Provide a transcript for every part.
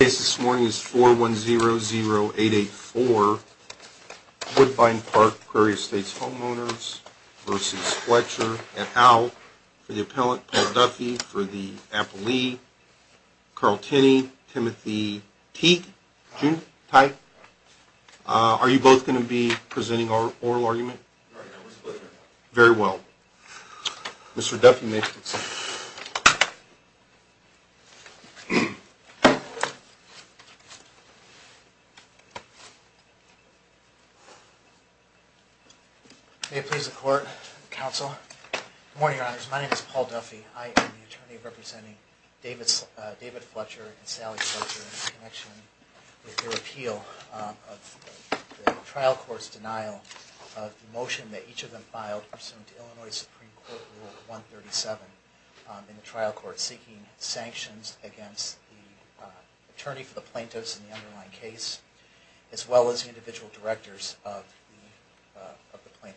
case this morning is 4100884 Woodbine Park, Prairie State's homeowners versus Fletcher and Al for the appellant, Paul Duffy for the appellee, Carl Tinney, Timothy Teak, June, Ty, are you both going to be presenting our oral argument? Very well. Mr. Duffy may proceed. May it please the court, counsel. Good morning, your honors. My name is Paul Duffy. I am the attorney representing David Fletcher and Sally Fletcher in connection with their appeal of the trial court's denial of the motion that each of them filed pursuant to Illinois Supreme Court Rule 137 in the trial court seeking sanctions against the attorney for the plaintiffs in the underlying case, as well as the individual directors of the trial court. We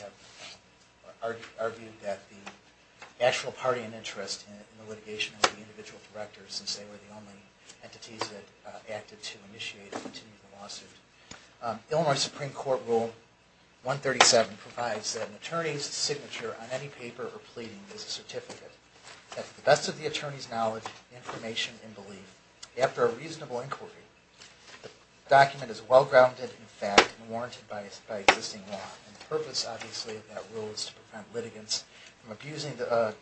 have argued that the actual party in interest in the litigation is the individual directors, since they were the only entities that acted to initiate the lawsuit. Illinois Supreme Court Rule 137 provides that an attorney's signature on any paper or pleading is a certificate that, to the best of the attorney's knowledge, information, and belief, after a reasonable inquiry, the document is well-grounded in fact and warranted by the attorney. The purpose, obviously, of that rule is to prevent litigants from abusing the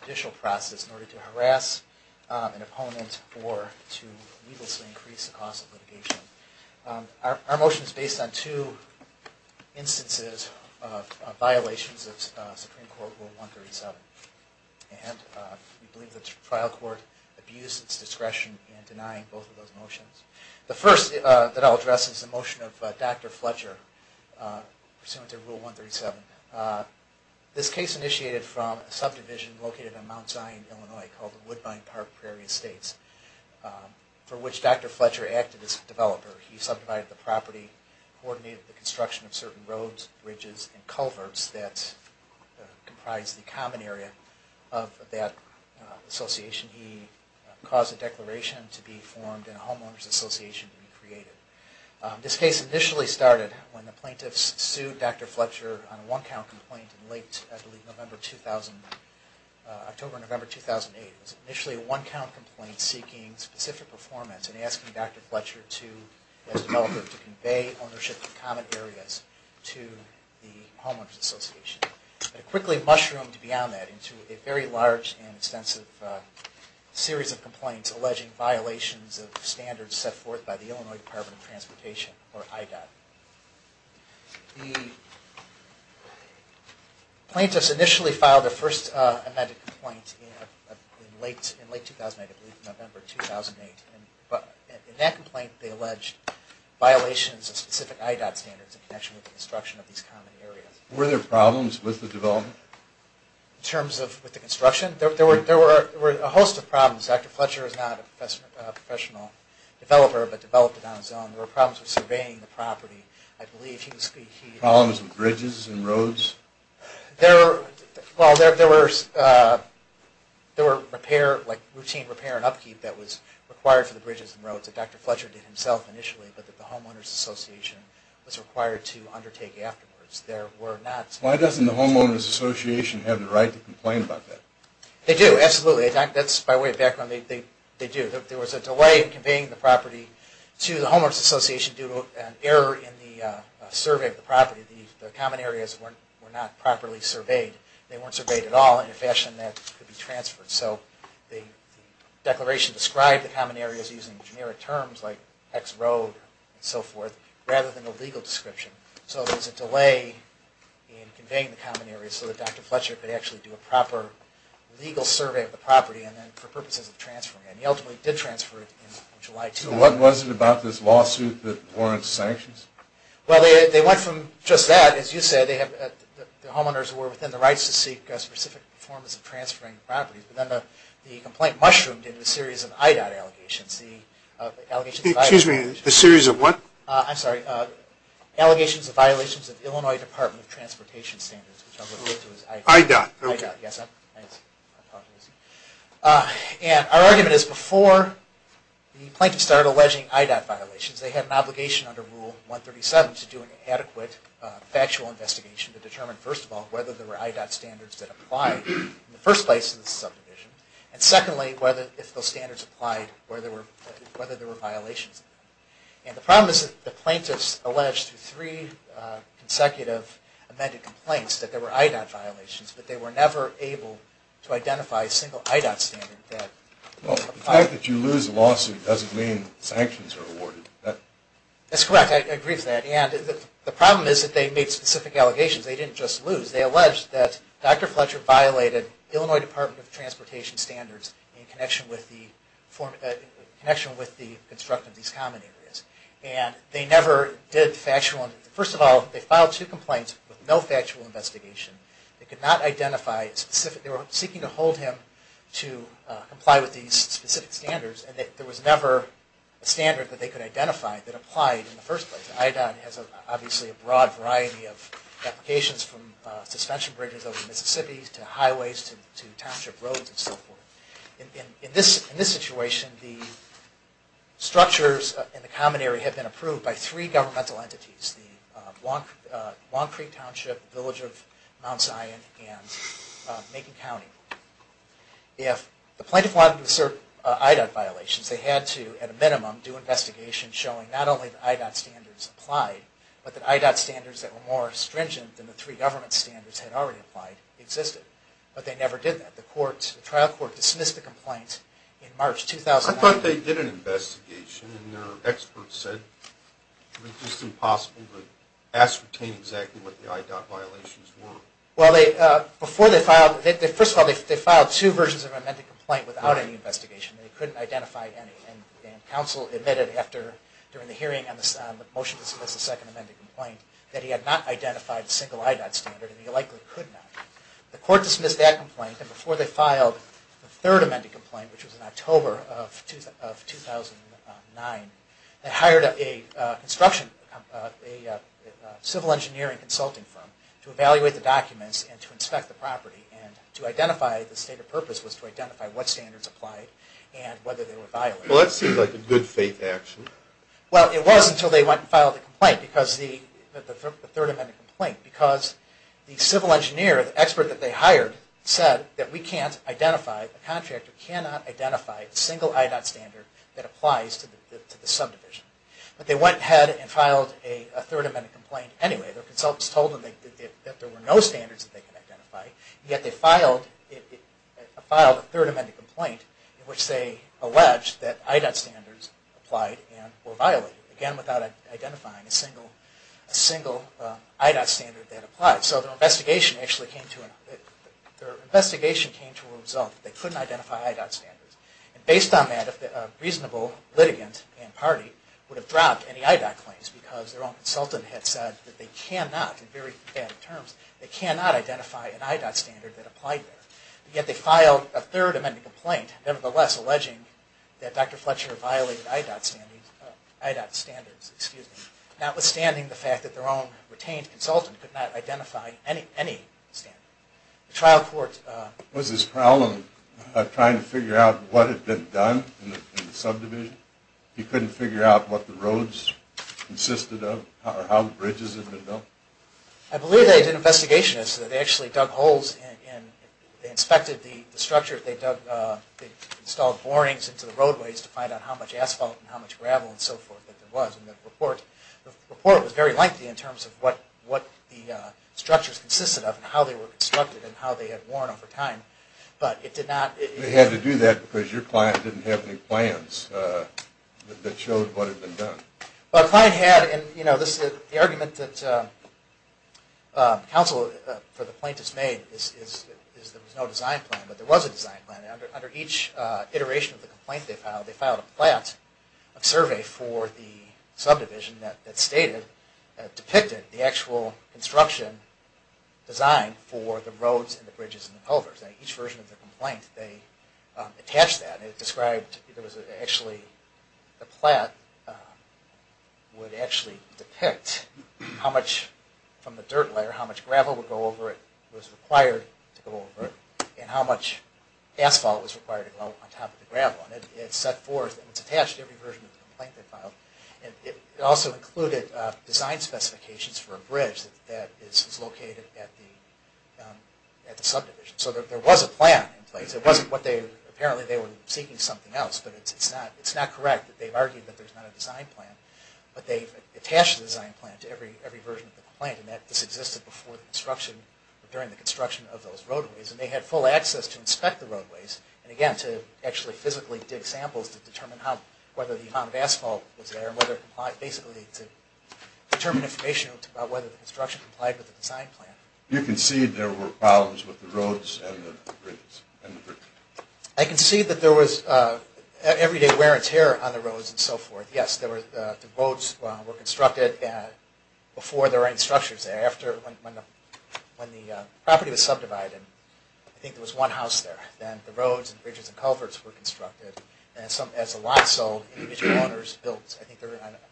judicial process in order to harass an opponent or to increase the cost of litigation. Our motion is based on two instances of violations of Supreme Court Rule 137, and we believe the trial court abused its discretion in denying both of those motions. The first that I'll address is the motion of Dr. Fletcher pursuant to Rule 137. This case initiated from a subdivision located in Mount Zion, Illinois, called the Woodbine Park Prairie Estates, for which Dr. Fletcher acted as a developer. He subdivided the property, coordinated the construction of certain roads, bridges, and culverts that comprise the common area of that association. He caused a declaration to be formed and a homeowners association to be created. This case initially started when the plaintiffs sued Dr. Fletcher on a one-count complaint in late, I believe, October or November 2008. It was initially a one-count complaint seeking specific performance and asking Dr. Fletcher, as a developer, to convey ownership of common areas to the homeowners association. It quickly mushroomed beyond that into a very large and extensive series of complaints alleging violations of standards set forth by the Illinois Department of Transportation, or IDOT. The plaintiffs initially filed their first amended complaint in late 2009, I believe, November 2008. In that complaint, they alleged violations of specific IDOT standards in connection with the construction of these common areas. Were there problems with the development? In terms of the construction? There were a host of problems. Dr. Fletcher is not a professional developer, but developed it on his own. There were problems with surveying the property, I believe. Problems with bridges and roads? There were routine repair and upkeep that was required for the bridges and roads that Dr. Fletcher did himself initially, but that the homeowners association was required to undertake afterwards. Why doesn't the homeowners association have the right to complain about that? They do, absolutely. That's by way of background, they do. There was a delay in conveying the property to the homeowners association due to an error in the survey of the property. The common areas were not properly surveyed. They weren't surveyed at all in a fashion that could be transferred. So the declaration described the common areas using generic terms like X road and so forth, rather than a legal description. So there was a delay in conveying the common areas so that Dr. Fletcher could actually do a proper legal survey of the property for purposes of transferring it. And he ultimately did transfer it in July 2009. So what was it about this lawsuit that warranted sanctions? Well, they went from just that, as you said, the homeowners were within the rights to seek specific forms of transferring the property, but then the complaint mushroomed into a series of IDOT allegations. Excuse me, a series of what? I'm sorry, allegations of violations of Illinois Department of Transportation standards. IDOT, okay. And our argument is before the plaintiffs started alleging IDOT violations, they had an obligation under Rule 137 to do an adequate factual investigation to determine, first of all, whether there were IDOT standards that applied in the first place in the subdivision. And secondly, if those standards applied, whether there were violations. And the problem is that the plaintiffs alleged through three consecutive amended complaints that there were IDOT violations, but they were never able to identify a single IDOT standard that applied. Well, the fact that you lose a lawsuit doesn't mean sanctions are awarded. That's correct, I agree with that. And the problem is that they made specific allegations. They didn't just lose. They alleged that Dr. Fletcher violated Illinois Department of Transportation standards in connection with the construction of these common areas. And they never did factual... First of all, they filed two complaints with no factual investigation. They could not identify a specific... They were seeking to hold him to comply with these specific standards, and there was never a standard that they could identify that applied in the first place. IDOT has obviously a broad variety of applications from suspension bridges over the Mississippi to highways to township roads and so forth. In this situation, the structures in the common area have been approved by three governmental entities. The Long Creek Township, the Village of Mount Zion, and Macon County. If the plaintiff wanted to assert IDOT violations, they had to, at a minimum, do investigations showing not only that IDOT standards applied, but that IDOT standards that were more stringent than the three government standards had already applied existed. But they never did that. The trial court dismissed the complaint in March 2009. I thought they did an investigation, and their experts said it was just impossible to ascertain exactly what the IDOT violations were. Well, before they filed... First of all, they filed two versions of an amended complaint without any investigation. They couldn't identify any, and counsel admitted during the hearing on the motion to dismiss the second amended complaint that he had not identified a single IDOT standard, and he likely could not. The court dismissed that complaint, and before they filed the third amended complaint, which was in October of 2009, they hired a civil engineering consulting firm to evaluate the documents and to inspect the property and to identify, the stated purpose was to identify what standards applied and whether they were violated. Well, that seems like a good faith action. Well, it was until they went and filed the third amended complaint, because the civil engineer, the expert that they hired, said that we can't identify, a contractor cannot identify a single IDOT standard that applies to the subdivision. But they went ahead and filed a third amended complaint anyway. Their consultants told them that there were no standards that they could identify, yet they filed a third amended complaint in which they alleged that IDOT standards applied and were violated. Again, without identifying a single IDOT standard that applied. So their investigation actually came to a result that they couldn't identify IDOT standards. And based on that, a reasonable litigant and party would have dropped any IDOT claims, because their own consultant had said that they cannot, in very bad terms, they cannot identify an IDOT standard that applied there. Yet they filed a third amended complaint, nevertheless alleging that Dr. Fletcher violated IDOT standards, notwithstanding the fact that their own retained consultant could not identify any standard. The trial court... Was his problem trying to figure out what had been done in the subdivision? He couldn't figure out what the roads consisted of or how bridges had been built? I believe they did an investigation. They actually dug holes and inspected the structure. They installed warnings into the roadways to find out how much asphalt and how much gravel and so forth that there was. And the report was very lengthy in terms of what the structures consisted of and how they were constructed and how they had worn over time. But it did not... They had to do that because your client didn't have any plans that showed what had been done. Well, the client had... And the argument that counsel for the plaintiffs made is there was no design plan, but there was a design plan. And under each iteration of the complaint they filed, they filed a plat of survey for the subdivision that stated, that depicted the actual construction design for the roads and the bridges and the culverts. And each version of the complaint, they attached that. And it described... It was actually... The plat would actually depict how much from the dirt layer, how much gravel would go over it, was required to go over it, and how much asphalt was required to go on top of the gravel. And it set forth... And it's attached to every version of the complaint they filed. It also included design specifications for a bridge that is located at the subdivision. So there was a plan in place. It wasn't what they... Apparently they were seeking something else, but it's not correct that they've argued that there's not a design plan. But they've attached the design plan to every version of the complaint. And that this existed before the construction... During the construction of those roadways. And they had full access to inspect the roadways. And again, to actually physically dig samples to determine how... Whether the amount of asphalt was there and whether it complied... Basically to determine information about whether the construction complied with the design plan. You can see there were problems with the roads and the bridges. I can see that there was everyday wear and tear on the roads and so forth. Yes, the roads were constructed before there were any structures there. When the property was subdivided, I think there was one house there. Then the roads and bridges and culverts were constructed. And as the lot sold, individual owners built... I think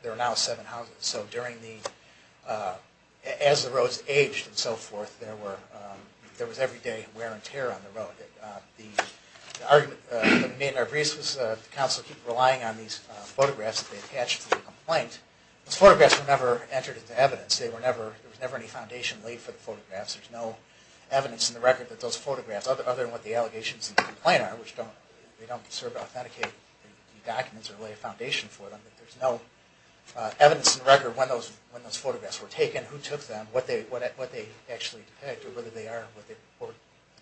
there are now seven houses. So during the... As the roads aged and so forth, there was everyday wear and tear on the road. The argument that me and our briefs was... The council kept relying on these photographs that they attached to the complaint. Those photographs were never entered into evidence. There was never any foundation laid for the photographs. There's no evidence in the record that those photographs... Other than what the allegations in the complaint are. Which they don't serve to authenticate documents or lay a foundation for them. There's no evidence in the record when those photographs were taken. Who took them. What they actually depict. Whether they are what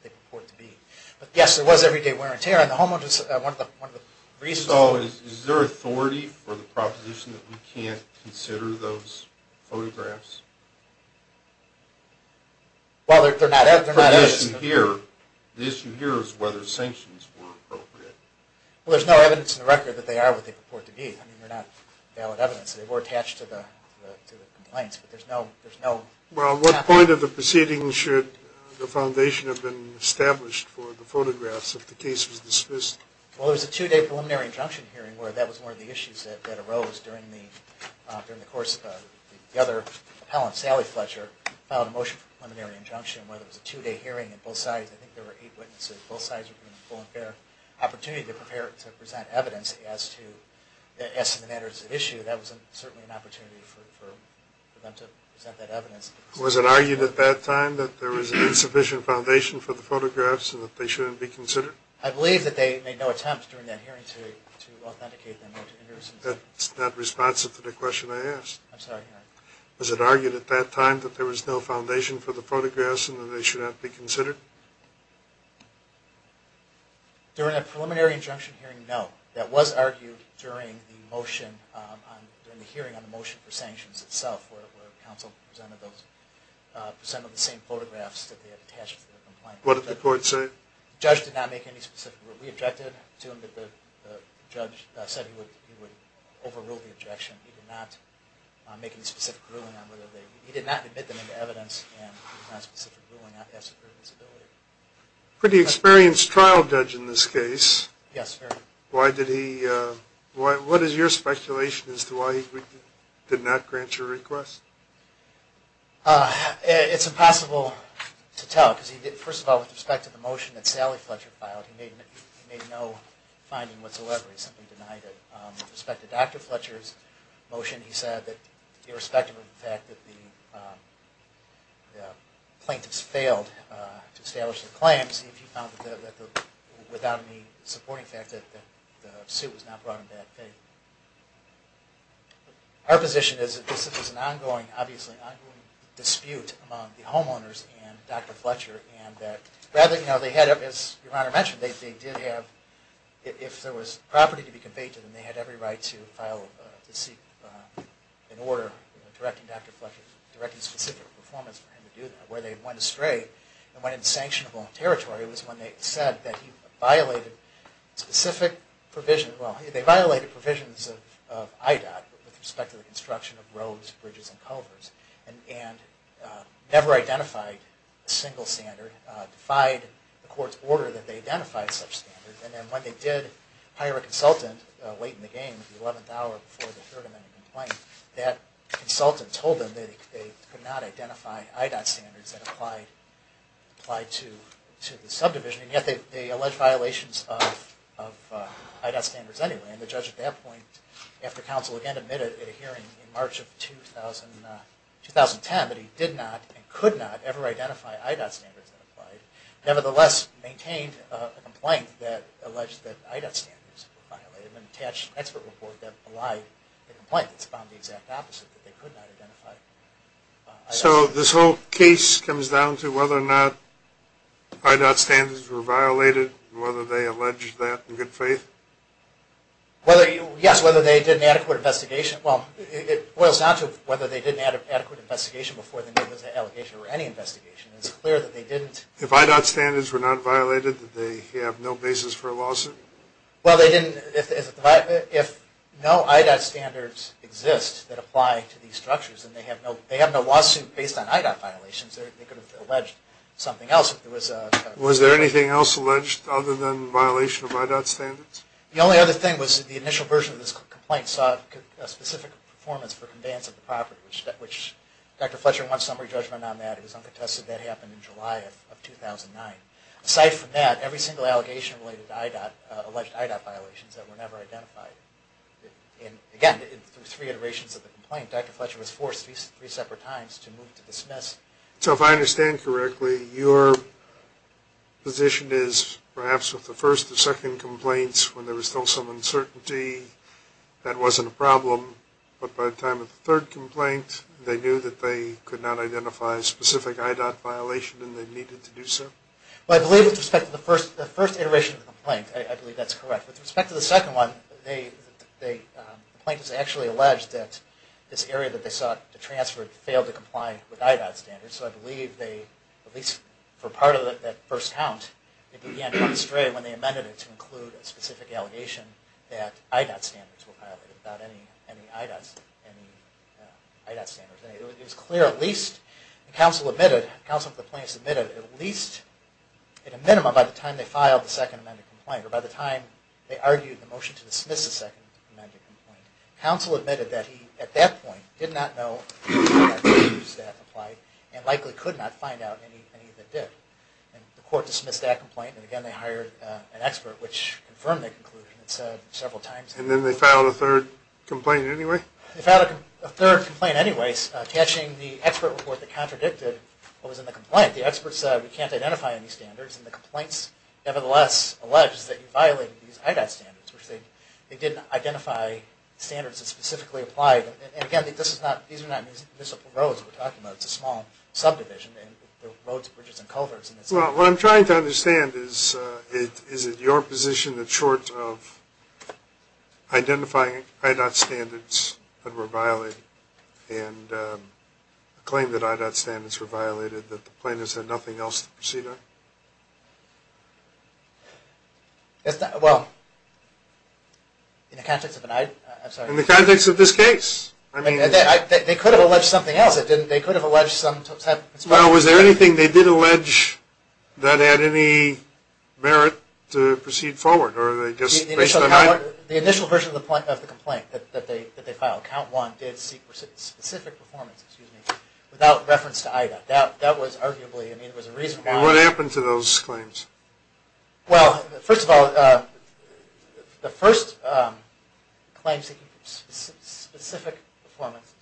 they purport to be. But yes, there was everyday wear and tear on the homeowners. One of the reasons... So is there authority for the proposition that we can't consider those photographs? Well, they're not... The issue here is whether sanctions were appropriate. Well, there's no evidence in the record that they are what they purport to be. I mean, they're not valid evidence. They were attached to the complaints, but there's no... Well, at what point of the proceeding should the foundation have been established for the photographs if the case was dismissed? Well, there was a two-day preliminary injunction hearing where that was one of the issues that arose during the course of... The other appellant, Sally Fletcher, filed a motion for preliminary injunction where there was a two-day hearing on both sides. I think there were eight witnesses. Both sides were given a full and fair opportunity to present evidence as to the matters at issue. That was certainly an opportunity for them to present that evidence. Was it argued at that time that there was an insufficient foundation for the photographs and that they shouldn't be considered? I believe that they made no attempt during that hearing to authenticate them. That's not responsive to the question I asked. I'm sorry. Was it argued at that time that there was no foundation for the photographs and that they should not be considered? During that preliminary injunction hearing, no. That was argued during the hearing on the motion for sanctions itself where counsel presented the same photographs that they had attached to the complaint. What did the court say? The judge did not make any specific ruling. We objected to him that the judge said he would overrule the objection. He did not make any specific ruling on whether they... He did not admit them into evidence and he did not make any specific ruling on passive provenance ability. Pretty experienced trial judge in this case. Yes, sir. Why did he... What is your speculation as to why he did not grant your request? It's impossible to tell because he did... First of all, with respect to the motion that Sally Fletcher filed, he made no finding whatsoever. He simply denied it. With respect to Dr. Fletcher's motion, he said that irrespective of the fact that the plaintiffs failed to establish their claims, he found that without any supporting fact that the suit was not brought in bad faith. Our position is that this is an ongoing, obviously ongoing, dispute among the homeowners and Dr. Fletcher. And that rather, you know, they had... As your Honor mentioned, they did have... If there was property to be conveyed to them, they had every right to file, to seek an order directing Dr. Fletcher, directing specific performance for him to do that. Where they went astray and went insanctionable on territory was when they said that he violated specific provisions... Well, they violated provisions of IDOT with respect to the construction of roads, bridges, and culverts, and never identified a single standard, defied the court's order that they identify such standards. And then when they did hire a consultant late in the game, the 11th hour before the third amendment complaint, that consultant told them that they could not identify IDOT standards that applied to the subdivision. And yet they alleged violations of IDOT standards anyway. And the judge at that point, after counsel again admitted at a hearing in March of 2010 that he did not and could not ever identify IDOT standards that applied, nevertheless maintained a complaint that alleged that IDOT standards were violated in an attached expert report that belied the complaint. It's found the exact opposite, that they could not identify IDOT standards. So this whole case comes down to whether or not IDOT standards were violated, and whether they alleged that in good faith? Yes, whether they did an adequate investigation. Well, it boils down to whether they did an adequate investigation before they made this allegation or any investigation. It's clear that they didn't. If IDOT standards were not violated, did they have no basis for a lawsuit? Well, they didn't. If no IDOT standards exist that apply to these structures, then they have no lawsuit based on IDOT violations. They could have alleged something else if there was a violation. Was there anything else alleged other than violation of IDOT standards? The only other thing was the initial version of this complaint saw a specific performance for conveyance of the property, which Dr. Fletcher won summary judgment on that. It was uncontested. That happened in July of 2009. Aside from that, every single allegation related to IDOT, alleged IDOT violations that were never identified. Again, through three iterations of the complaint, Dr. Fletcher was forced three separate times to move to dismiss. So if I understand correctly, your position is perhaps with the first and second complaints when there was still some uncertainty, that wasn't a problem, but by the time of the third complaint, they knew that they could not identify a specific IDOT violation and they needed to do so? Well, I believe with respect to the first iteration of the complaint, I believe that's correct. With respect to the second one, the plaintiffs actually alleged that this area that they sought to transfer failed to comply with IDOT standards. So I believe they, at least for part of that first count, they began to run astray when they amended it to include a specific allegation that IDOT standards were violated, not any IDOT standards. It was clear, at least, the counsel of the plaintiffs admitted at least, at a minimum, by the time they filed the second amendment complaint, or by the time they argued the motion to dismiss the second amendment complaint, counsel admitted that he, at that point, did not know that IDOT standards had applied and likely could not find out anything that did. The court dismissed that complaint and again they hired an expert, which confirmed the conclusion and said several times... And then they filed a third complaint anyway? They filed a third complaint anyways, catching the expert report that contradicted what was in the complaint. The expert said we can't identify any standards, and the complaints nevertheless alleged that you violated these IDOT standards, which they didn't identify standards that specifically applied. And again, these are not municipal roads we're talking about. It's a small subdivision and there are roads, bridges, and culverts. Well, what I'm trying to understand is, is it your position that short of identifying IDOT standards that were violated and a claim that IDOT standards were violated, that the plaintiffs had nothing else to proceed on? Well, in the context of an... I'm sorry. In the context of this case. They could have alleged something else. They could have alleged some type... Well, was there anything they did allege that had any merit to proceed forward? The initial version of the complaint that they filed, count one, did seek specific performance without reference to IDOT. That was arguably a reason why... And what happened to those claims? Well, first of all, the first claims seeking specific performance,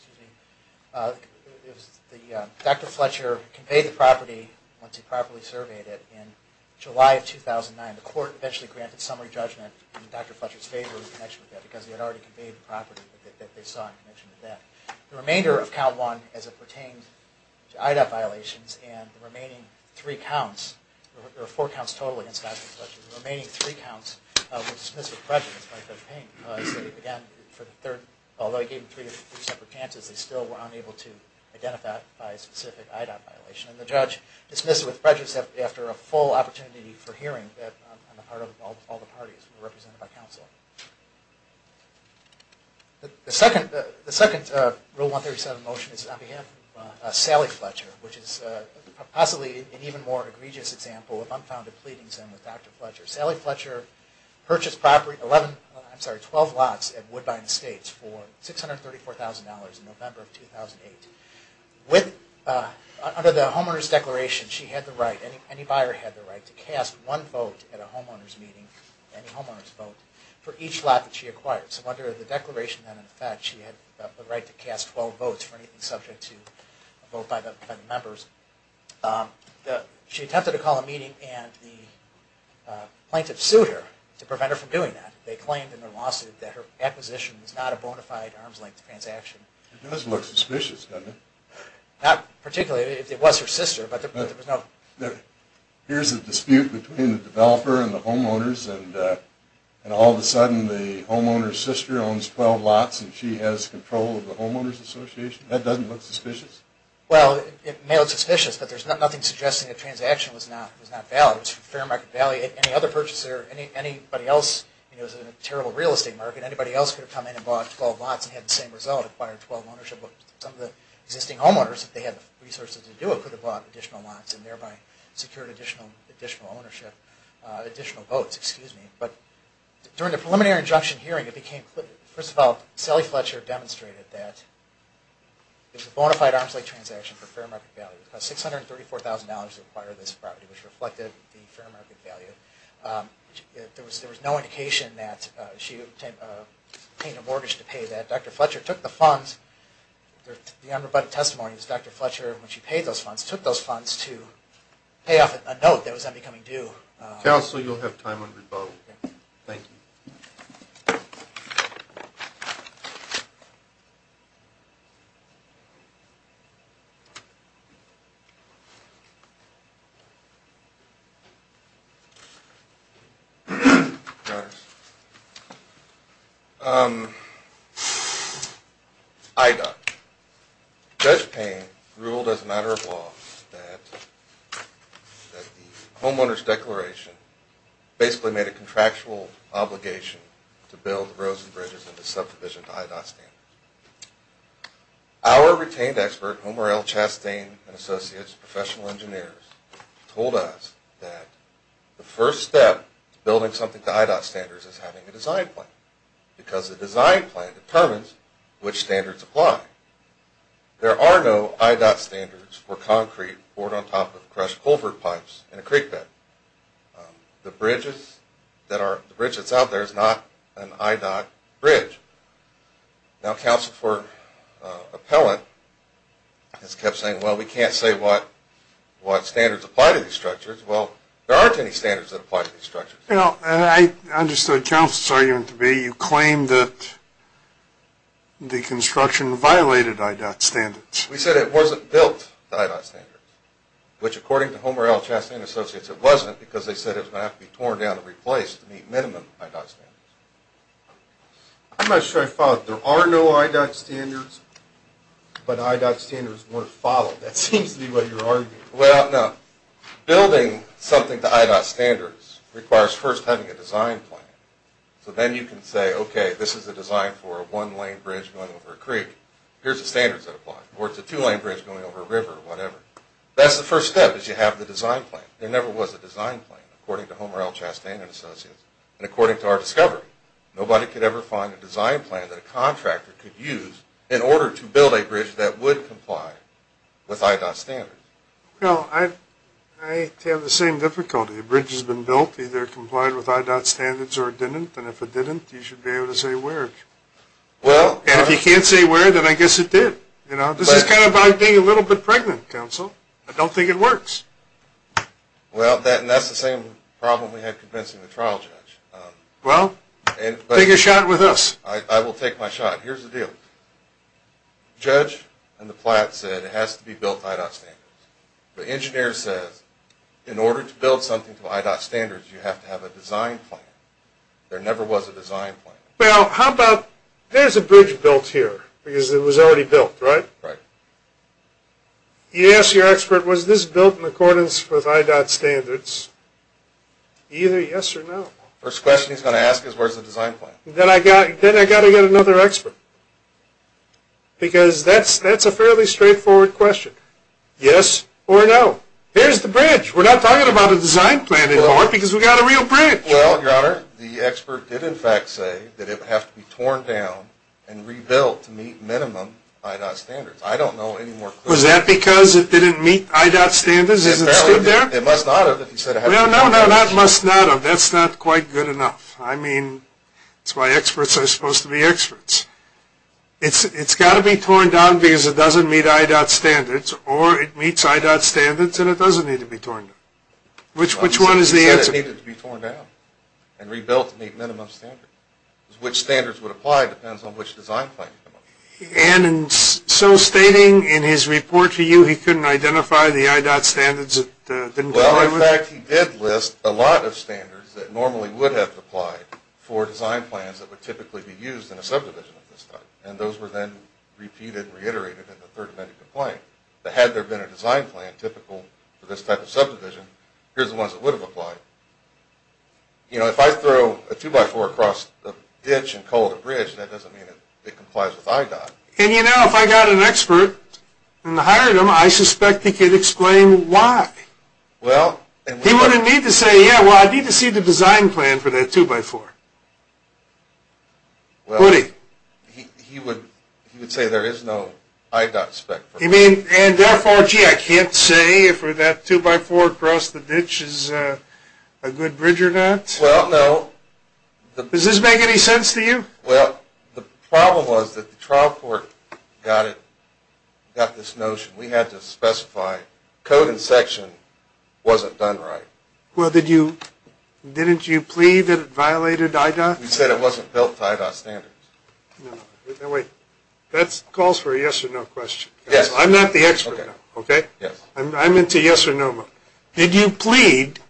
Dr. Fletcher conveyed the property, once he properly surveyed it, in July of 2009. The court eventually granted summary judgment in Dr. Fletcher's favor in connection with that because he had already conveyed the property that they saw in connection with that. The remainder of count one as it pertained to IDOT violations and the remaining three counts, or four counts total against Dr. Fletcher, the remaining three counts were dismissed with prejudice by Judge Payne. Again, for the third... Although he gave them three separate chances, they still were unable to identify a specific IDOT violation. And the judge dismissed it with prejudice after a full opportunity for hearing on the part of all the parties represented by counsel. The second Rule 137 motion is on behalf of Sally Fletcher, which is possibly an even more egregious example of unfounded pleadings in with Dr. Fletcher. Sally Fletcher purchased property, I'm sorry, 12 lots at Woodbine Estates for $634,000 in November of 2008. Under the homeowner's declaration, she had the right, any buyer had the right, to cast one vote at a homeowner's meeting, any homeowner's vote, for each lot that she acquired. So under the declaration then, in fact, she had the right to cast 12 votes for anything subject to a vote by the members. She attempted to call a meeting and the plaintiff sued her to prevent her from doing that. They claimed in their lawsuit that her acquisition was not a bona fide arms-length transaction. It does look suspicious, doesn't it? Not particularly. It was her sister, but there was no... There appears to be a dispute between the developer and the homeowners, and all of a sudden the homeowner's sister owns 12 lots and she has control of the homeowners association. That doesn't look suspicious? Well, it may look suspicious, but there's nothing suggesting the transaction was not valid. It was for fair market value. Any other purchaser, anybody else, it was a terrible real estate market, anybody else could have come in and bought 12 lots and had the same result, acquired 12 ownership. But some of the existing homeowners, if they had the resources to do it, could have bought additional lots and thereby secured additional ownership, additional votes, excuse me. But during the preliminary injunction hearing, it became clear, first of all, Sally Fletcher demonstrated that it was a bona fide arm's length transaction for fair market value. It cost $634,000 to acquire this property, which reflected the fair market value. There was no indication that she was paying a mortgage to pay that. Dr. Fletcher took the funds, the unrebutted testimony was Dr. Fletcher, when she paid those funds, took those funds to pay off a note that was then becoming due. Counsel, you'll have time when we vote. Thank you. I'm sorry. IDOT. Judge Payne ruled as a matter of law that the homeowners declaration basically made a contractual obligation to build roads and bridges in the subdivision to IDOT standards. Our retained expert, Homer L. Chastain and associates, professional engineers, told us that the first step to building something to IDOT standards is having a design plan, because the design plan determines which standards apply. There are no IDOT standards for concrete poured on top of crushed culvert pipes in a creek bed. The bridge that's out there is not an IDOT bridge. Now, counsel for appellant has kept saying, well, we can't say what standards apply to these structures. Well, there aren't any standards that apply to these structures. I understood counsel's argument to be you claim that the construction violated IDOT standards. We said it wasn't built to IDOT standards, which, according to Homer L. Chastain and associates, it wasn't because they said it was going to have to be torn down and replaced to meet minimum IDOT standards. I'm not sure I followed. There are no IDOT standards, but IDOT standards weren't followed. That seems to be what you're arguing. Well, no. Building something to IDOT standards requires first having a design plan. So then you can say, okay, this is a design for a one-lane bridge going over a creek. Here's the standards that apply. Or it's a two-lane bridge going over a river or whatever. That's the first step, is you have the design plan. There never was a design plan, according to Homer L. Chastain and associates. And according to our discovery, nobody could ever find a design plan that a contractor could use in order to build a bridge that would comply with IDOT standards. Well, I have the same difficulty. A bridge has been built, either complied with IDOT standards or didn't, and if it didn't, you should be able to say where. And if you can't say where, then I guess it did. This is kind of like being a little bit pregnant, counsel. I don't think it works. Well, that's the same problem we had convincing the trial judge. Well, take a shot with us. I will take my shot. Here's the deal. The judge and the plat said it has to be built to IDOT standards. The engineer says, in order to build something to IDOT standards, you have to have a design plan. There never was a design plan. Well, how about, there's a bridge built here, because it was already built, right? Right. You ask your expert, was this built in accordance with IDOT standards? Either yes or no. First question he's going to ask is, where's the design plan? Then I've got to get another expert. Because that's a fairly straightforward question. Yes or no. Here's the bridge. We're not talking about a design plan anymore, because we've got a real bridge. Well, your honor, the expert did in fact say that it would have to be torn down and rebuilt to meet minimum IDOT standards. I don't know any more clues. Was that because it didn't meet IDOT standards? Is it still there? It must not have. That's not quite good enough. I mean, that's why experts are supposed to be experts. It's got to be torn down because it doesn't meet IDOT standards, or it meets IDOT standards and it doesn't need to be torn down. Which one is the answer? He said it needed to be torn down and rebuilt to meet minimum standards. Which standards would apply depends on which design plan you come up with. And so stating in his report to you he couldn't identify the IDOT standards it didn't comply with? Well, in fact, he did list a lot of standards that normally would have to apply for design plans that would typically be used in a subdivision at this time. And those were then repeated and reiterated in the third amendment complaint. Had there been a design plan typical for this type of subdivision, here's the ones that would have applied. You know, if I throw a 2x4 across the ditch and call it a bridge, that doesn't mean it complies with IDOT. And you know, if I got an expert and hired him, I suspect he could explain why. He wouldn't need to say, yeah, well, I need to see the design plan for that 2x4. Well, he would say there is no IDOT spec for it. You mean, and therefore, gee, I can't say if that 2x4 across the ditch is a good bridge or not? Well, no. Does this make any sense to you? Well, the problem was that the trial court got this notion. We had to specify code and section wasn't done right. Well, didn't you plead that it violated IDOT standards? We said it wasn't built to IDOT standards. Wait, that calls for a yes or no question. I'm not the expert. I'm into yes or no. Did you plead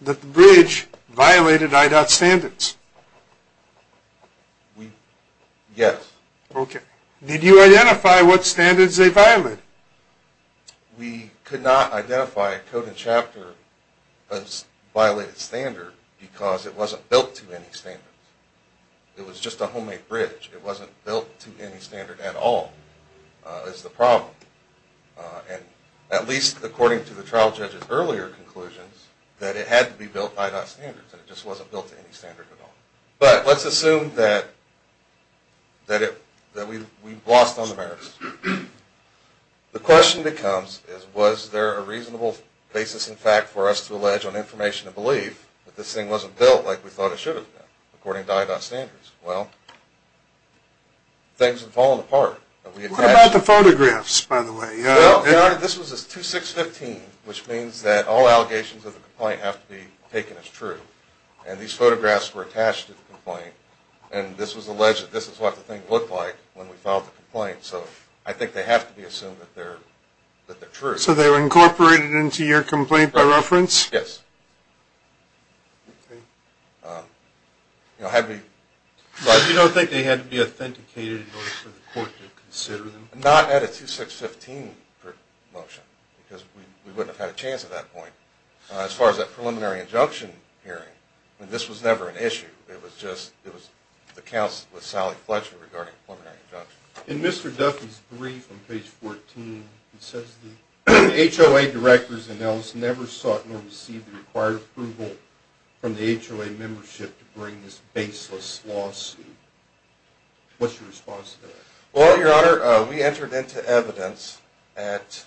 that the bridge violated IDOT standards? Yes. Did you identify what standards they violated? We could not identify a code and chapter that violated standard because it wasn't built to any standard. It was just a homemade bridge. It wasn't built to any standard at all is the problem. At least according to the trial judge's earlier conclusions that it had to be built to IDOT standards and it just wasn't built to any standard at all. But let's assume that we've lost on the merits. The question that comes is was there a reasonable basis in fact for us to allege on information and belief that this thing wasn't built like we thought it should have been according to IDOT standards? Well, things have fallen apart. What about the photographs by the way? This was a 2615 which means that all allegations of the complaint have to be taken as true and these photographs were attached to the complaint and this was alleged that this is what the thing looked like when we filed the complaint so I think they have to be true. So they were incorporated into your complaint by reference? Yes. You don't think they had to be authenticated in order for the court to consider them? Not at a 2615 motion because we wouldn't have had a chance at that point. As far as that preliminary injunction hearing this was never an issue. It was just the counsel with Sally Fletcher regarding preliminary injunction. In Mr. Duffy's brief on HOA Directors and Ellis never sought nor received the required approval from the HOA membership to bring this baseless lawsuit. What's your response to that? Well your honor we entered into evidence at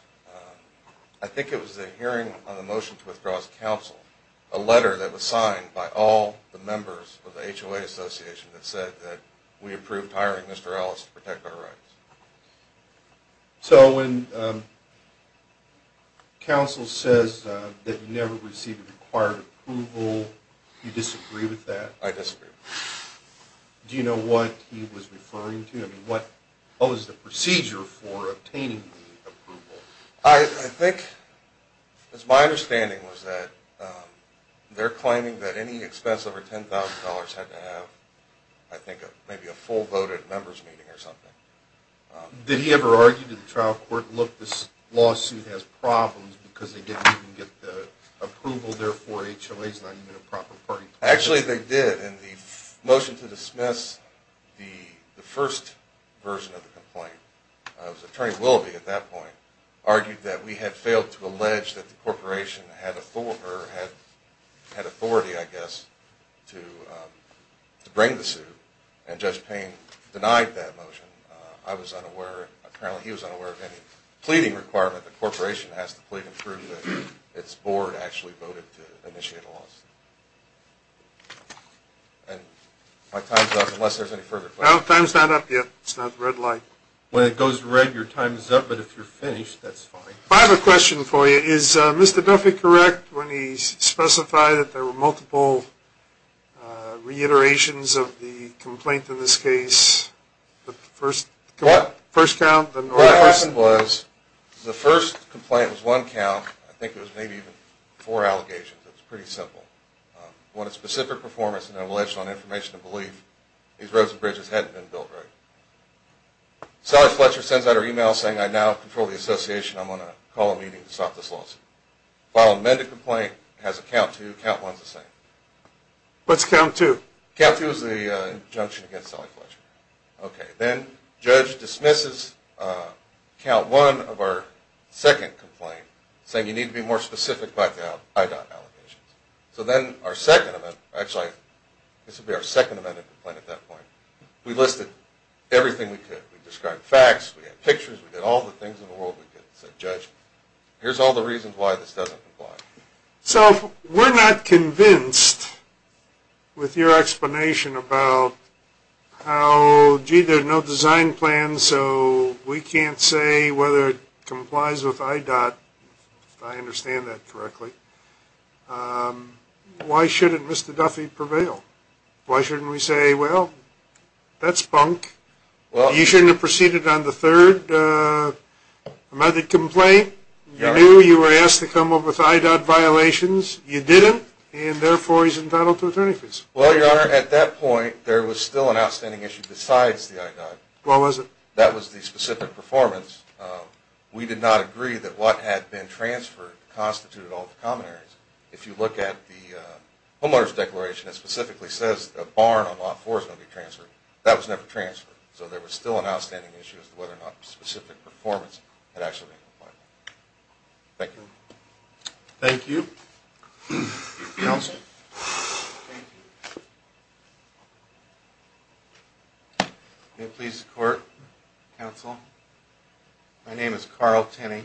I think it was the hearing on the motion to withdraw as counsel, a letter that was signed by all the members of the HOA Association that said that we approved hiring Mr. Ellis to protect our rights. So when counsel says that you never received the required approval you disagree with that? I disagree. Do you know what he was referring to? What was the procedure for obtaining the approval? I think it's my understanding was that they're claiming that any expense over $10,000 had to have I think maybe a full voted members meeting or something. Did he ever argue to the trial court look this lawsuit has problems because they didn't even get the approval there for HOA's not even a proper party? Actually they did and the motion to dismiss the first version of the complaint Attorney Willoughby at that point argued that we had failed to allege that the corporation had authority I guess to bring the suit and Judge Payne denied that motion. I was unaware he was unaware of any pleading requirement the corporation has to plead and prove that its board actually voted to initiate a lawsuit. And my time's up unless there's any further questions. Time's not up yet. It's not red light. When it goes red your time's up but if you're finished that's fine. I have a question for you. Is Mr. Duffy correct when he specified that there were multiple reiterations of the complaint in this case? The first count? What happened was the first complaint was one count I think it was maybe even four allegations it was pretty simple. I want a specific performance on information and belief. These roads and bridges hadn't been built right. Sally Fletcher sends out her email saying I now control the association. I'm going to call a meeting to stop this lawsuit. File an amended complaint. Has a count two. Count one's the same. What's count two? Count two is the injunction against Sally Fletcher. Okay. Then judge dismisses count one of our second complaint saying you need to be more specific about the IDOT allegations. So then our second amendment, actually this would be our second amended complaint at that point we listed everything we could. We described facts. We had pictures. We did all the things in the world we could. So judge, here's all the reasons why this doesn't comply. So we're not convinced with your explanation about how gee there's no design plan so we can't say whether it complies with IDOT if I understand that correctly. Why shouldn't Mr. Duffy prevail? Why shouldn't we say well that's bunk. You shouldn't have proceeded on the third another complaint you knew you were asked to come up with IDOT violations. You didn't and therefore he's entitled to attorney fees. Well your honor, at that point there was still an outstanding issue besides the IDOT. What was it? That was the specific performance. We did not agree that what had been transferred constituted all the common areas. If you look at the homeowner's declaration it specifically says a barn on lot four is going to be transferred. That was never transferred. So there was still an outstanding issue as to whether or not specific performance had actually been complied with. Thank you. Thank you. Anything else? Thank you. May it please the court, counsel. My name is Carl Tenney.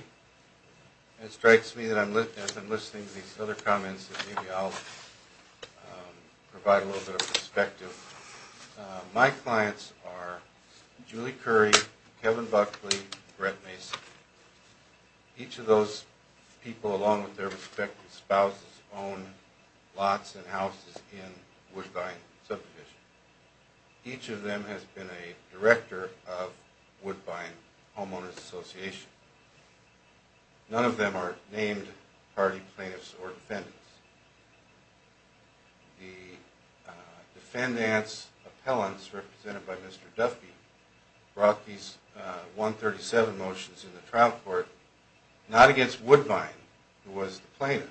It strikes me that as I'm listening to these other comments that maybe I'll provide a little bit of perspective. My clients are Julie Curry, Kevin Buckley, Brett Mason. Each of those people along with their respective spouses own lots and houses in Woodbine Subdivision. Each of them has been a director of Woodbine Homeowners Association. None of them are named party plaintiffs or defendants. The defendants appellants represented by Mr. Duffy brought these 137 motions in the trial court not against Woodbine who was the plaintiff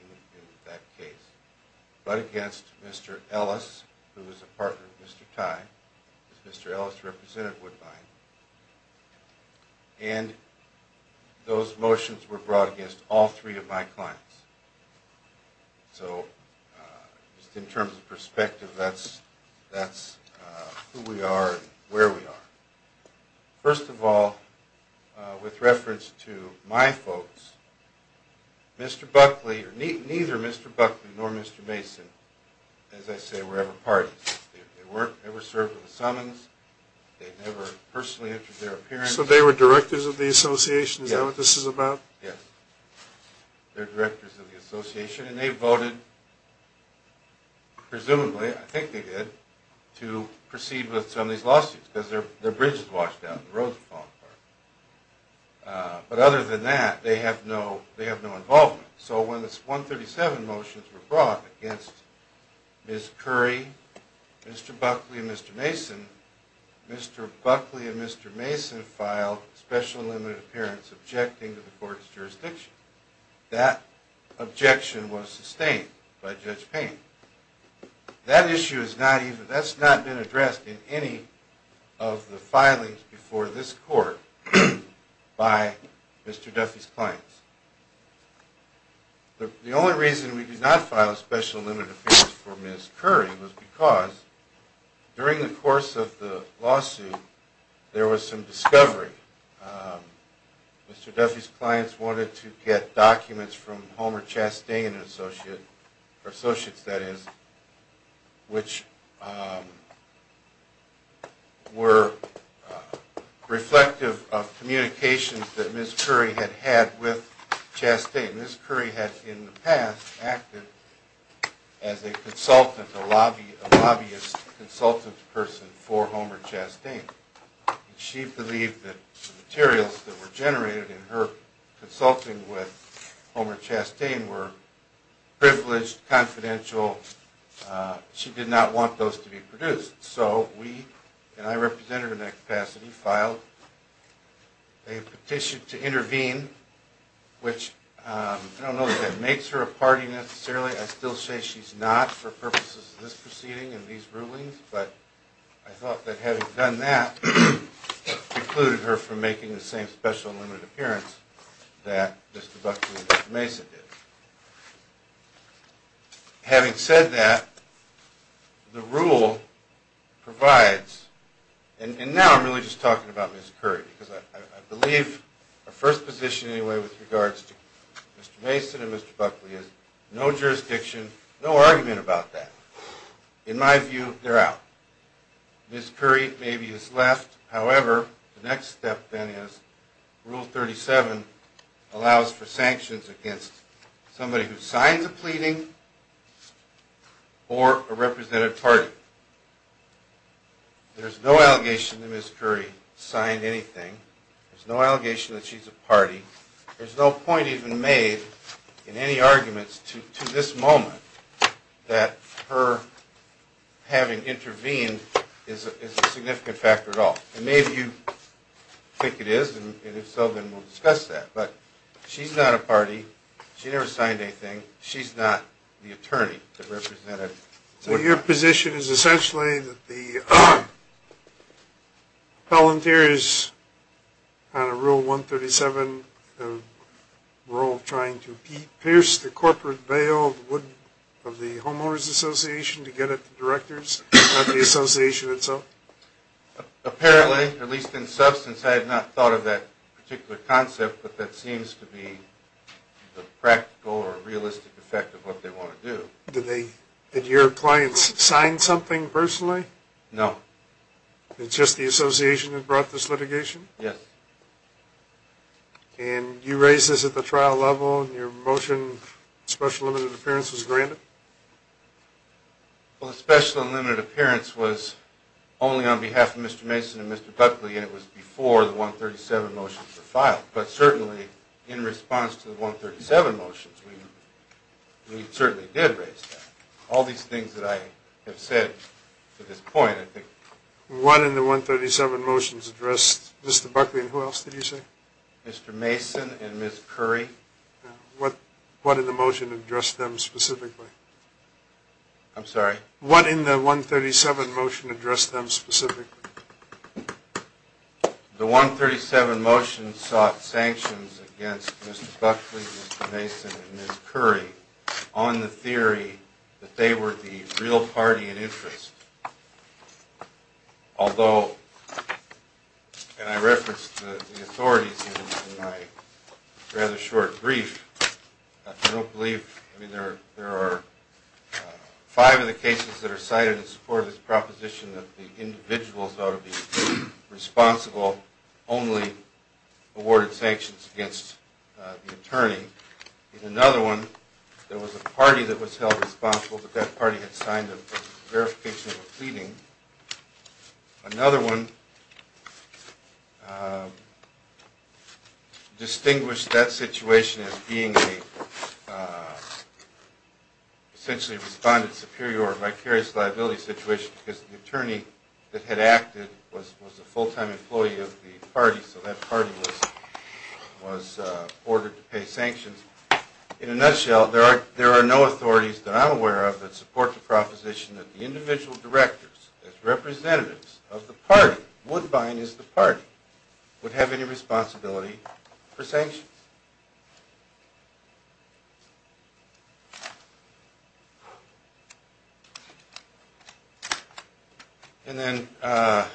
in that case but against Mr. Ellis who was a partner of Mr. Ty. Mr. Ellis represented Woodbine and those motions were brought against all three of my clients. So just in terms of perspective that's who we are and where we are. First of all with reference to my folks Mr. Buckley or neither Mr. Buckley nor Mr. Mason as I say were ever parties. They weren't ever served with a summons. They never personally association? Is that what this is about? Yes. They're directors of the association and they voted presumably I think they did to proceed with some of these lawsuits because their bridge was washed down but other than that they have no involvement. So when the 137 motions were brought against Ms. Curry Mr. Buckley and Mr. Mason Mr. Buckley and Mr. Mason filed special and limited appearance objecting to the court's objection was sustained by Judge Payne. That issue is not even, that's not been addressed in any of the filings before this court by Mr. Duffy's clients. The only reason we did not file a special and limited appearance for Ms. Curry was because during the course of the lawsuit there was some discovery. Mr. Duffy's clients wanted to get documents from Homer Chastain Associates that is which were of communications that Ms. Curry had had with Chastain. Ms. Curry had in the past acted as a consultant, a lobbyist consultant person for Homer Chastain. She believed that the materials that were generated in her consulting with Homer Chastain were privileged, confidential. She did not want those to be produced. So we, and I represented her in that capacity, filed a petition to intervene which I don't know if that makes her a party necessarily. I still say she's not for purposes of this proceeding and these rulings, but I thought that having done that precluded her from making the same special and limited appearance that Mr. Buckley and Mr. Mason did. Having said that, the rule provides and now I'm really just talking about Ms. Curry because I believe our first position anyway with regards to Mr. Mason and Mr. Buckley is no jurisdiction, no argument about that. In my view, they're out. Ms. Curry maybe is left. However, the next step then is Rule 37 allows for sanctions against somebody who signs a pleading or a representative party. There's no allegation that Ms. Curry signed anything. There's no allegation that she's a party. There's no point even made in any arguments to this moment that her having intervened is a significant factor at all. Maybe you think it is and if so then we'll discuss that, but she's not a party. She never signed anything. She's not the attorney that represented. Your position is essentially that the volunteers on a Rule 137 rule trying to pierce the corporate veil of the homeowners association to get at the directors and not the association itself? Apparently, at least in substance, I had not thought of that particular concept, but that seems to be the practical or realistic effect of what they want to do. Did your clients sign something personally? No. It's just the association that brought this litigation? Yes. And you raised this at the trial level and your motion of special and limited appearance was granted? Well, the special and limited appearance was only on behalf of Mr. Mason and Mr. Buckley and it was before the 137 motions were filed, but certainly in response to the 137 motions we certainly did raise that. All these things that I have said to this point, I think... One in the 137 motions addressed Mr. Buckley and who else did you say? Mr. Mason and Ms. Curry. What in the motion addressed them specifically? I'm sorry? What in the 137 motion addressed them specifically? The 137 motions sought sanctions against Mr. Buckley, Mr. Mason and Ms. Curry on the theory that they were the real party in interest. Although, and I referenced the authorities in my rather short brief, I don't believe... There are five of the cases that are cited in support of this proposition that the individuals ought to be responsible only awarded sanctions against the attorney. In another one there was a party that was held responsible, but that party had signed a verification of a pleading. Another one distinguished that situation as being a essentially responded superior or vicarious liability situation because the attorney that had acted was a full-time employee of the party, so that party was ordered to pay sanctions. In a nutshell, there are no authorities that I'm aware of that support the proposition that the individual directors as representatives of the party, Woodbine is the party, would have any responsibility for sanctions. And then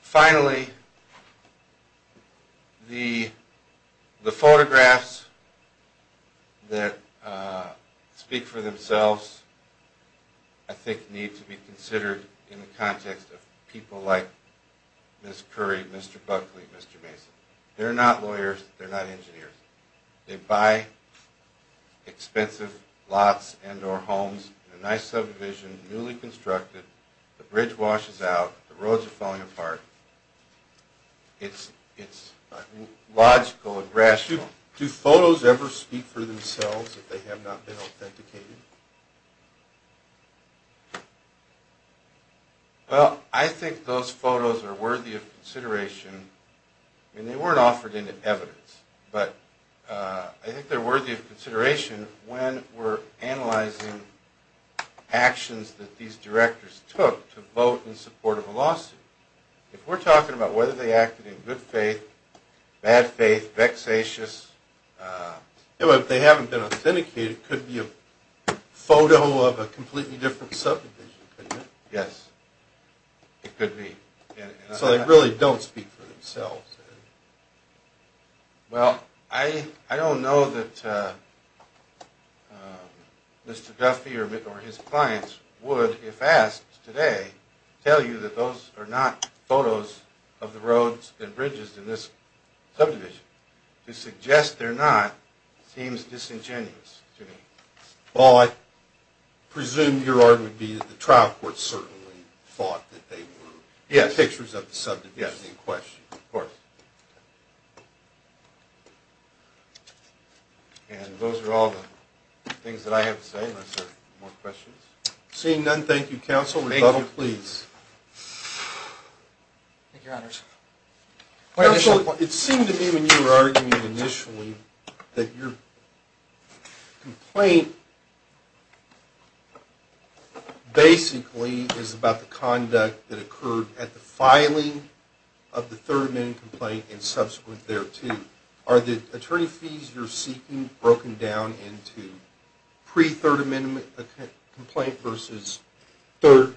finally the photographs that speak for themselves I think need to be people like Ms. Curry, Mr. Buckley, Mr. Mason. They're not lawyers, they're not engineers. They buy expensive lots and or homes in a nice subdivision newly constructed, the bridge washes out, the roads are falling apart. It's logical and rational. Do photos ever speak for themselves if they have not been authenticated? Well, I think those photos are worthy of consideration and they weren't offered any evidence, but I think they're worthy of consideration when we're analyzing actions that these directors took to vote in support of a lawsuit. If we're talking about whether they acted in good faith, bad faith, vexatious, if they haven't been authenticated, it could be a photo of a completely different subdivision, couldn't it? Yes. It could be. So they really don't speak for themselves. Well, I don't know that Mr. Duffy or his clients would, if asked today, tell you that those are not photos of the roads and bridges in this subdivision. To suggest they're not seems disingenuous to me. Well, I presume your argument would be that the trial court certainly thought that they were pictures of the subdivision in question. Yes, of course. And those are all the things that I have to say unless there are more questions. Seeing none, thank you, Counsel. Rebuttal, please. Thank you, Your Honors. It seemed to me when you were arguing initially that your complaint basically is about the conduct that occurred at the filing of the third amendment complaint and subsequent thereto. Are the attorney fees you're seeking broken down into pre-third amendment complaint versus third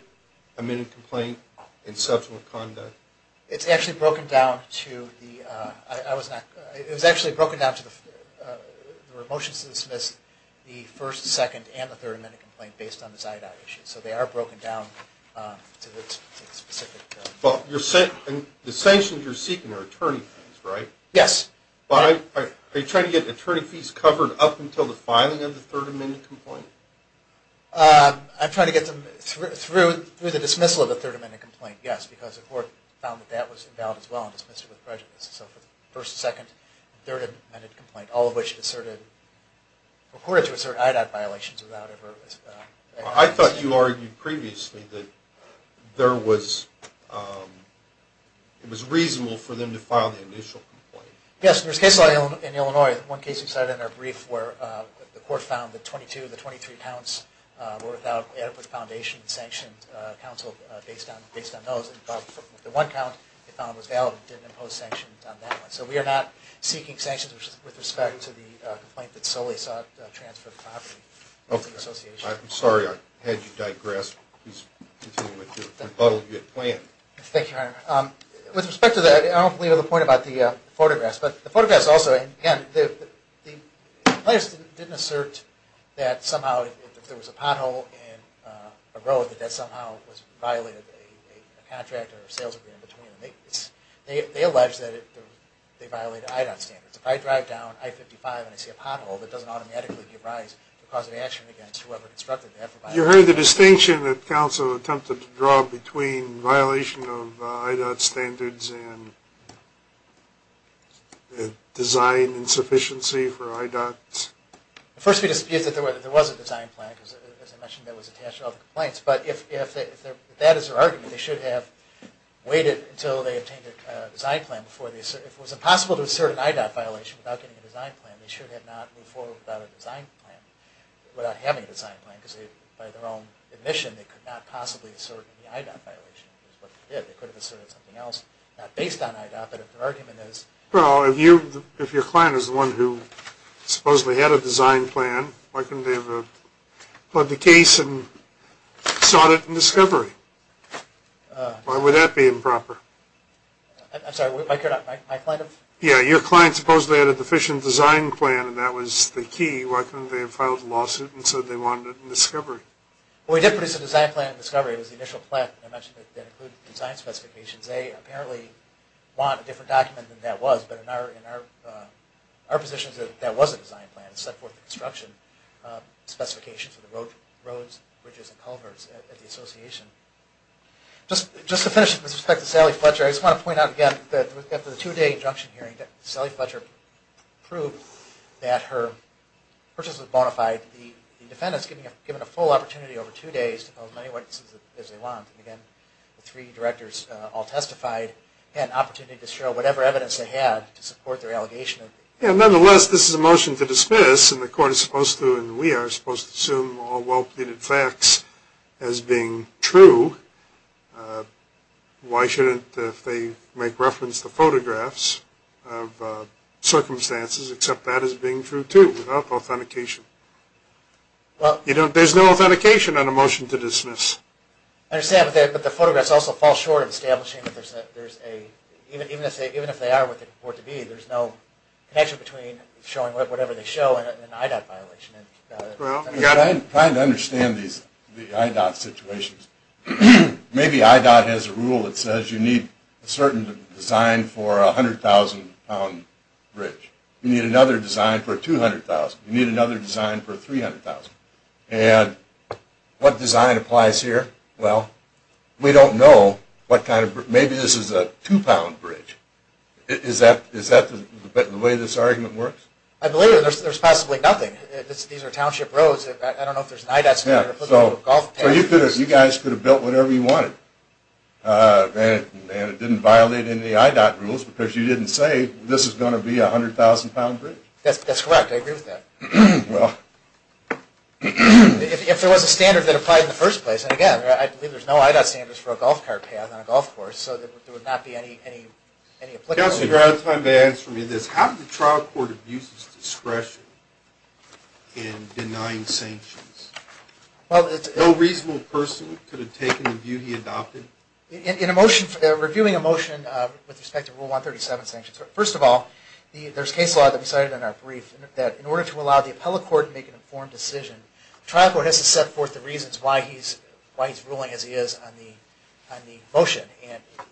amendment complaint and subsequent conduct? It's actually broken down to the motions to dismiss the first, second, and the third amendment complaint based on the Ziodot issue. So they are broken down to the specific... The sanctions you're seeking are attorney fees, right? Yes. Are you trying to get attorney fees covered up until the filing of the third amendment complaint? I'm trying to get them through the dismissal of the third amendment complaint, yes, because the court found that that was invalid as well and dismissed it with prejudice. So for the first, second, and third amendment complaint, all of which asserted... were reported to assert IDOT violations without ever... I thought you argued previously that there was... it was reasonable for them to file the initial complaint. Yes. There's cases in Illinois, one case you cited in our brief where the court found that 22 of the 23 accounts were without adequate foundation and sanctions and counseled based on those. The one account they found was valid and didn't impose sanctions on that one. So we are not seeking sanctions with respect to the complaint that solely sought transfer of property. I'm sorry, I had you digress. Please continue with your rebuttal you had planned. Thank you, Your Honor. With respect to that, I don't believe I have a point about the photographs, but the photographs also... The plaintiffs didn't assert that somehow if there was a pothole in a road that that somehow violated a contract or a sales agreement between them. They allege that they violated IDOT standards. If I drive down I-55 and I see a pothole, that doesn't automatically give rise to a cause of action against whoever constructed that... You heard the distinction that counsel attempted to draw between violation of IDOT standards and design insufficiency for IDOT? The first thing to say is that there was a design plan, because as I mentioned that was attached to all the complaints, but if that is their argument, they should have waited until they obtained a design plan before they... If it was impossible to assert an IDOT violation without getting a design plan, they should have not moved forward without a design plan, without having a design plan, because by their own admission they could not possibly assert any IDOT violation, which is what they did. They could have asserted something else, not based on IDOT, but if their argument is... Well, if your client is the one who supposedly had a design plan, why couldn't they have filed the case and sought it in discovery? Why would that be improper? I'm sorry, my client? Yeah, your client supposedly had a deficient design plan and that was the key. Why couldn't they have filed a lawsuit and said they wanted it in discovery? Well, we did produce a design plan in discovery. It was the initial plan that I mentioned that included design specifications. They apparently want a different document than that was, but in our positions, that was a design plan. It set forth the construction specifications of the roads, bridges, and culverts at the association. Just to finish with respect to Sally Fletcher, I just want to point out again that after the two-day injunction hearing, Sally Fletcher proved that her purchase was bona fide. The defendants were given a full opportunity over two days to file as many witnesses as they wanted, and again, the three directors all testified. They had an opportunity to show whatever evidence they had to support their allegation. Nonetheless, this is a motion to dismiss, and the court is supposed to, and we are supposed to, assume all well-pleaded facts as being true. Why shouldn't they make reference to photographs of circumstances, except that as being true too, without authentication? There's no authentication on a motion to dismiss. I understand, but the photographs also fall short of establishing that there's a even if they are what they report to be, there's no connection between showing whatever they show and an IDOT violation. Trying to understand these IDOT situations, maybe IDOT has a rule that says you need a certain design for a 100,000 pound bridge. You need another design for 200,000. You need another design for 300,000. And what design applies here? Well, we don't know what kind of, maybe this is a two-pound bridge. Is that the way this argument works? I believe there's possibly nothing. These are township roads. I don't know if there's an IDOT standard. You guys could have built whatever you wanted. It didn't violate any IDOT rules because you didn't say this is going to be a 100,000 pound bridge. That's correct. I agree with that. If there was a standard that applied in the first place, and again, I believe there's no IDOT standards for a golf cart path on a golf course, so there would not be any applicability. Counselor, you're out of time to answer me this. How did the trial court abuse his discretion in denying sanctions? No reasonable person could have taken the view he adopted? Reviewing a motion with respect to Rule 137 sanctions, first of all, there's case law that we cited in our brief that in order to allow the appellate court to make an informed decision, the trial court has to set forth the reasons why he's ruling as he is on the motion,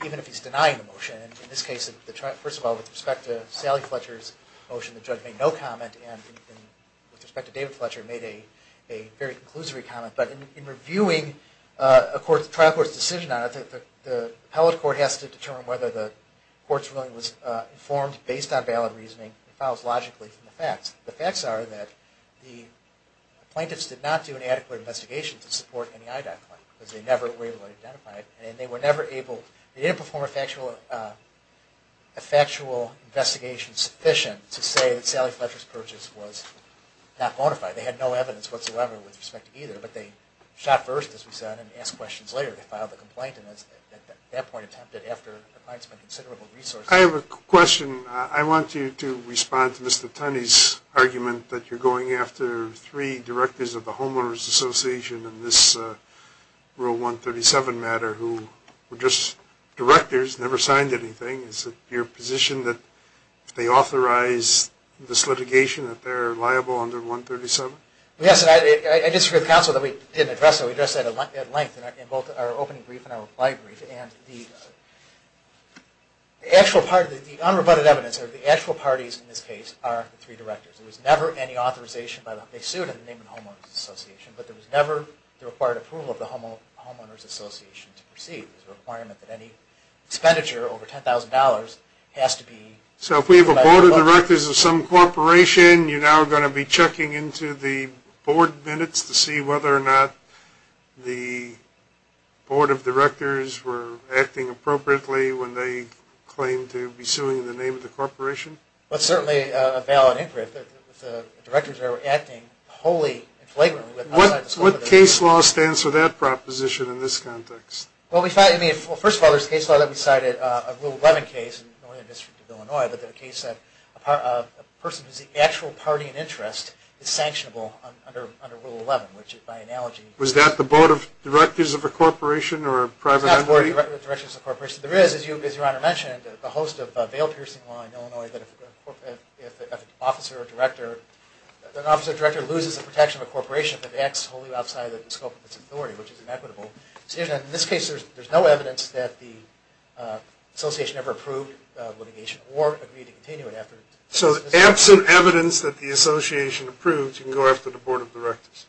even if he's denying the motion. In this case, first of all, with respect to Sally Fletcher's motion, the judge made no comment, and with respect to David Fletcher, made a very conclusory comment. But in reviewing a trial court's decision on it, the appellate court has to determine whether the court's ruling was informed based on valid reasoning and follows logically from the facts. The facts are that the appellate court did not perform a factual investigation to support any IDOT claim. They didn't perform a factual investigation sufficient to say that Sally Fletcher's purchase was not bona fide. They had no evidence whatsoever with respect to either, but they shot first, as we said, and asked questions later. They filed the complaint, and at that point attempted after the client spent considerable resources. I have a question. I want you to respond to Mr. Tunney's question. You're going after three directors of the Homeowners Association in this Rule 137 matter who were just directors, never signed anything. Is it your position that if they authorize this litigation that they're liable under 137? Yes, and I disagree with counsel that we didn't address that. We addressed that at length in both our opening brief and our reply brief, and the actual part of the unrebutted evidence, or the actual parties in this case, are the three directors. There was never any authorization. They sued in the name of the Homeowners Association, but there was never the required approval of the Homeowners Association to proceed. It was a requirement that any expenditure over $10,000 has to be... So if we have a board of directors of some corporation, you're now going to be checking into the board minutes to see whether or not the board of directors were acting appropriately when they claimed to be certainly a valid interest that the directors are acting wholly and flagrantly. What case law stands for that proposition in this context? First of all, there's a case law that we cited, a Rule 11 case in the Northern District of Illinois, but there's a case that a person who's the actual party in interest is sanctionable under Rule 11, which, by analogy... Was that the board of directors of a corporation or a private entity? There is, as Your Honor mentioned, the host of a veil-piercing law in Illinois that if an officer or director loses the protection of a corporation, that acts wholly outside the scope of its authority, which is inequitable. In this case, there's no evidence that the association ever approved the litigation or agreed to continue it after... So absent evidence that the association approved, you can go after the board of directors?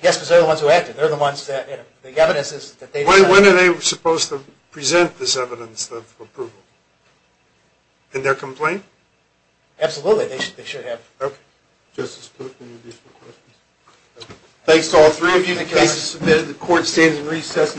Yes, because they're the ones who acted. They're the ones that... When are they supposed to ask for approval? Can they complain? Absolutely. They should have. Justice Cook, any additional questions? Thanks to all three of you. The case is submitted. The court stands in recess.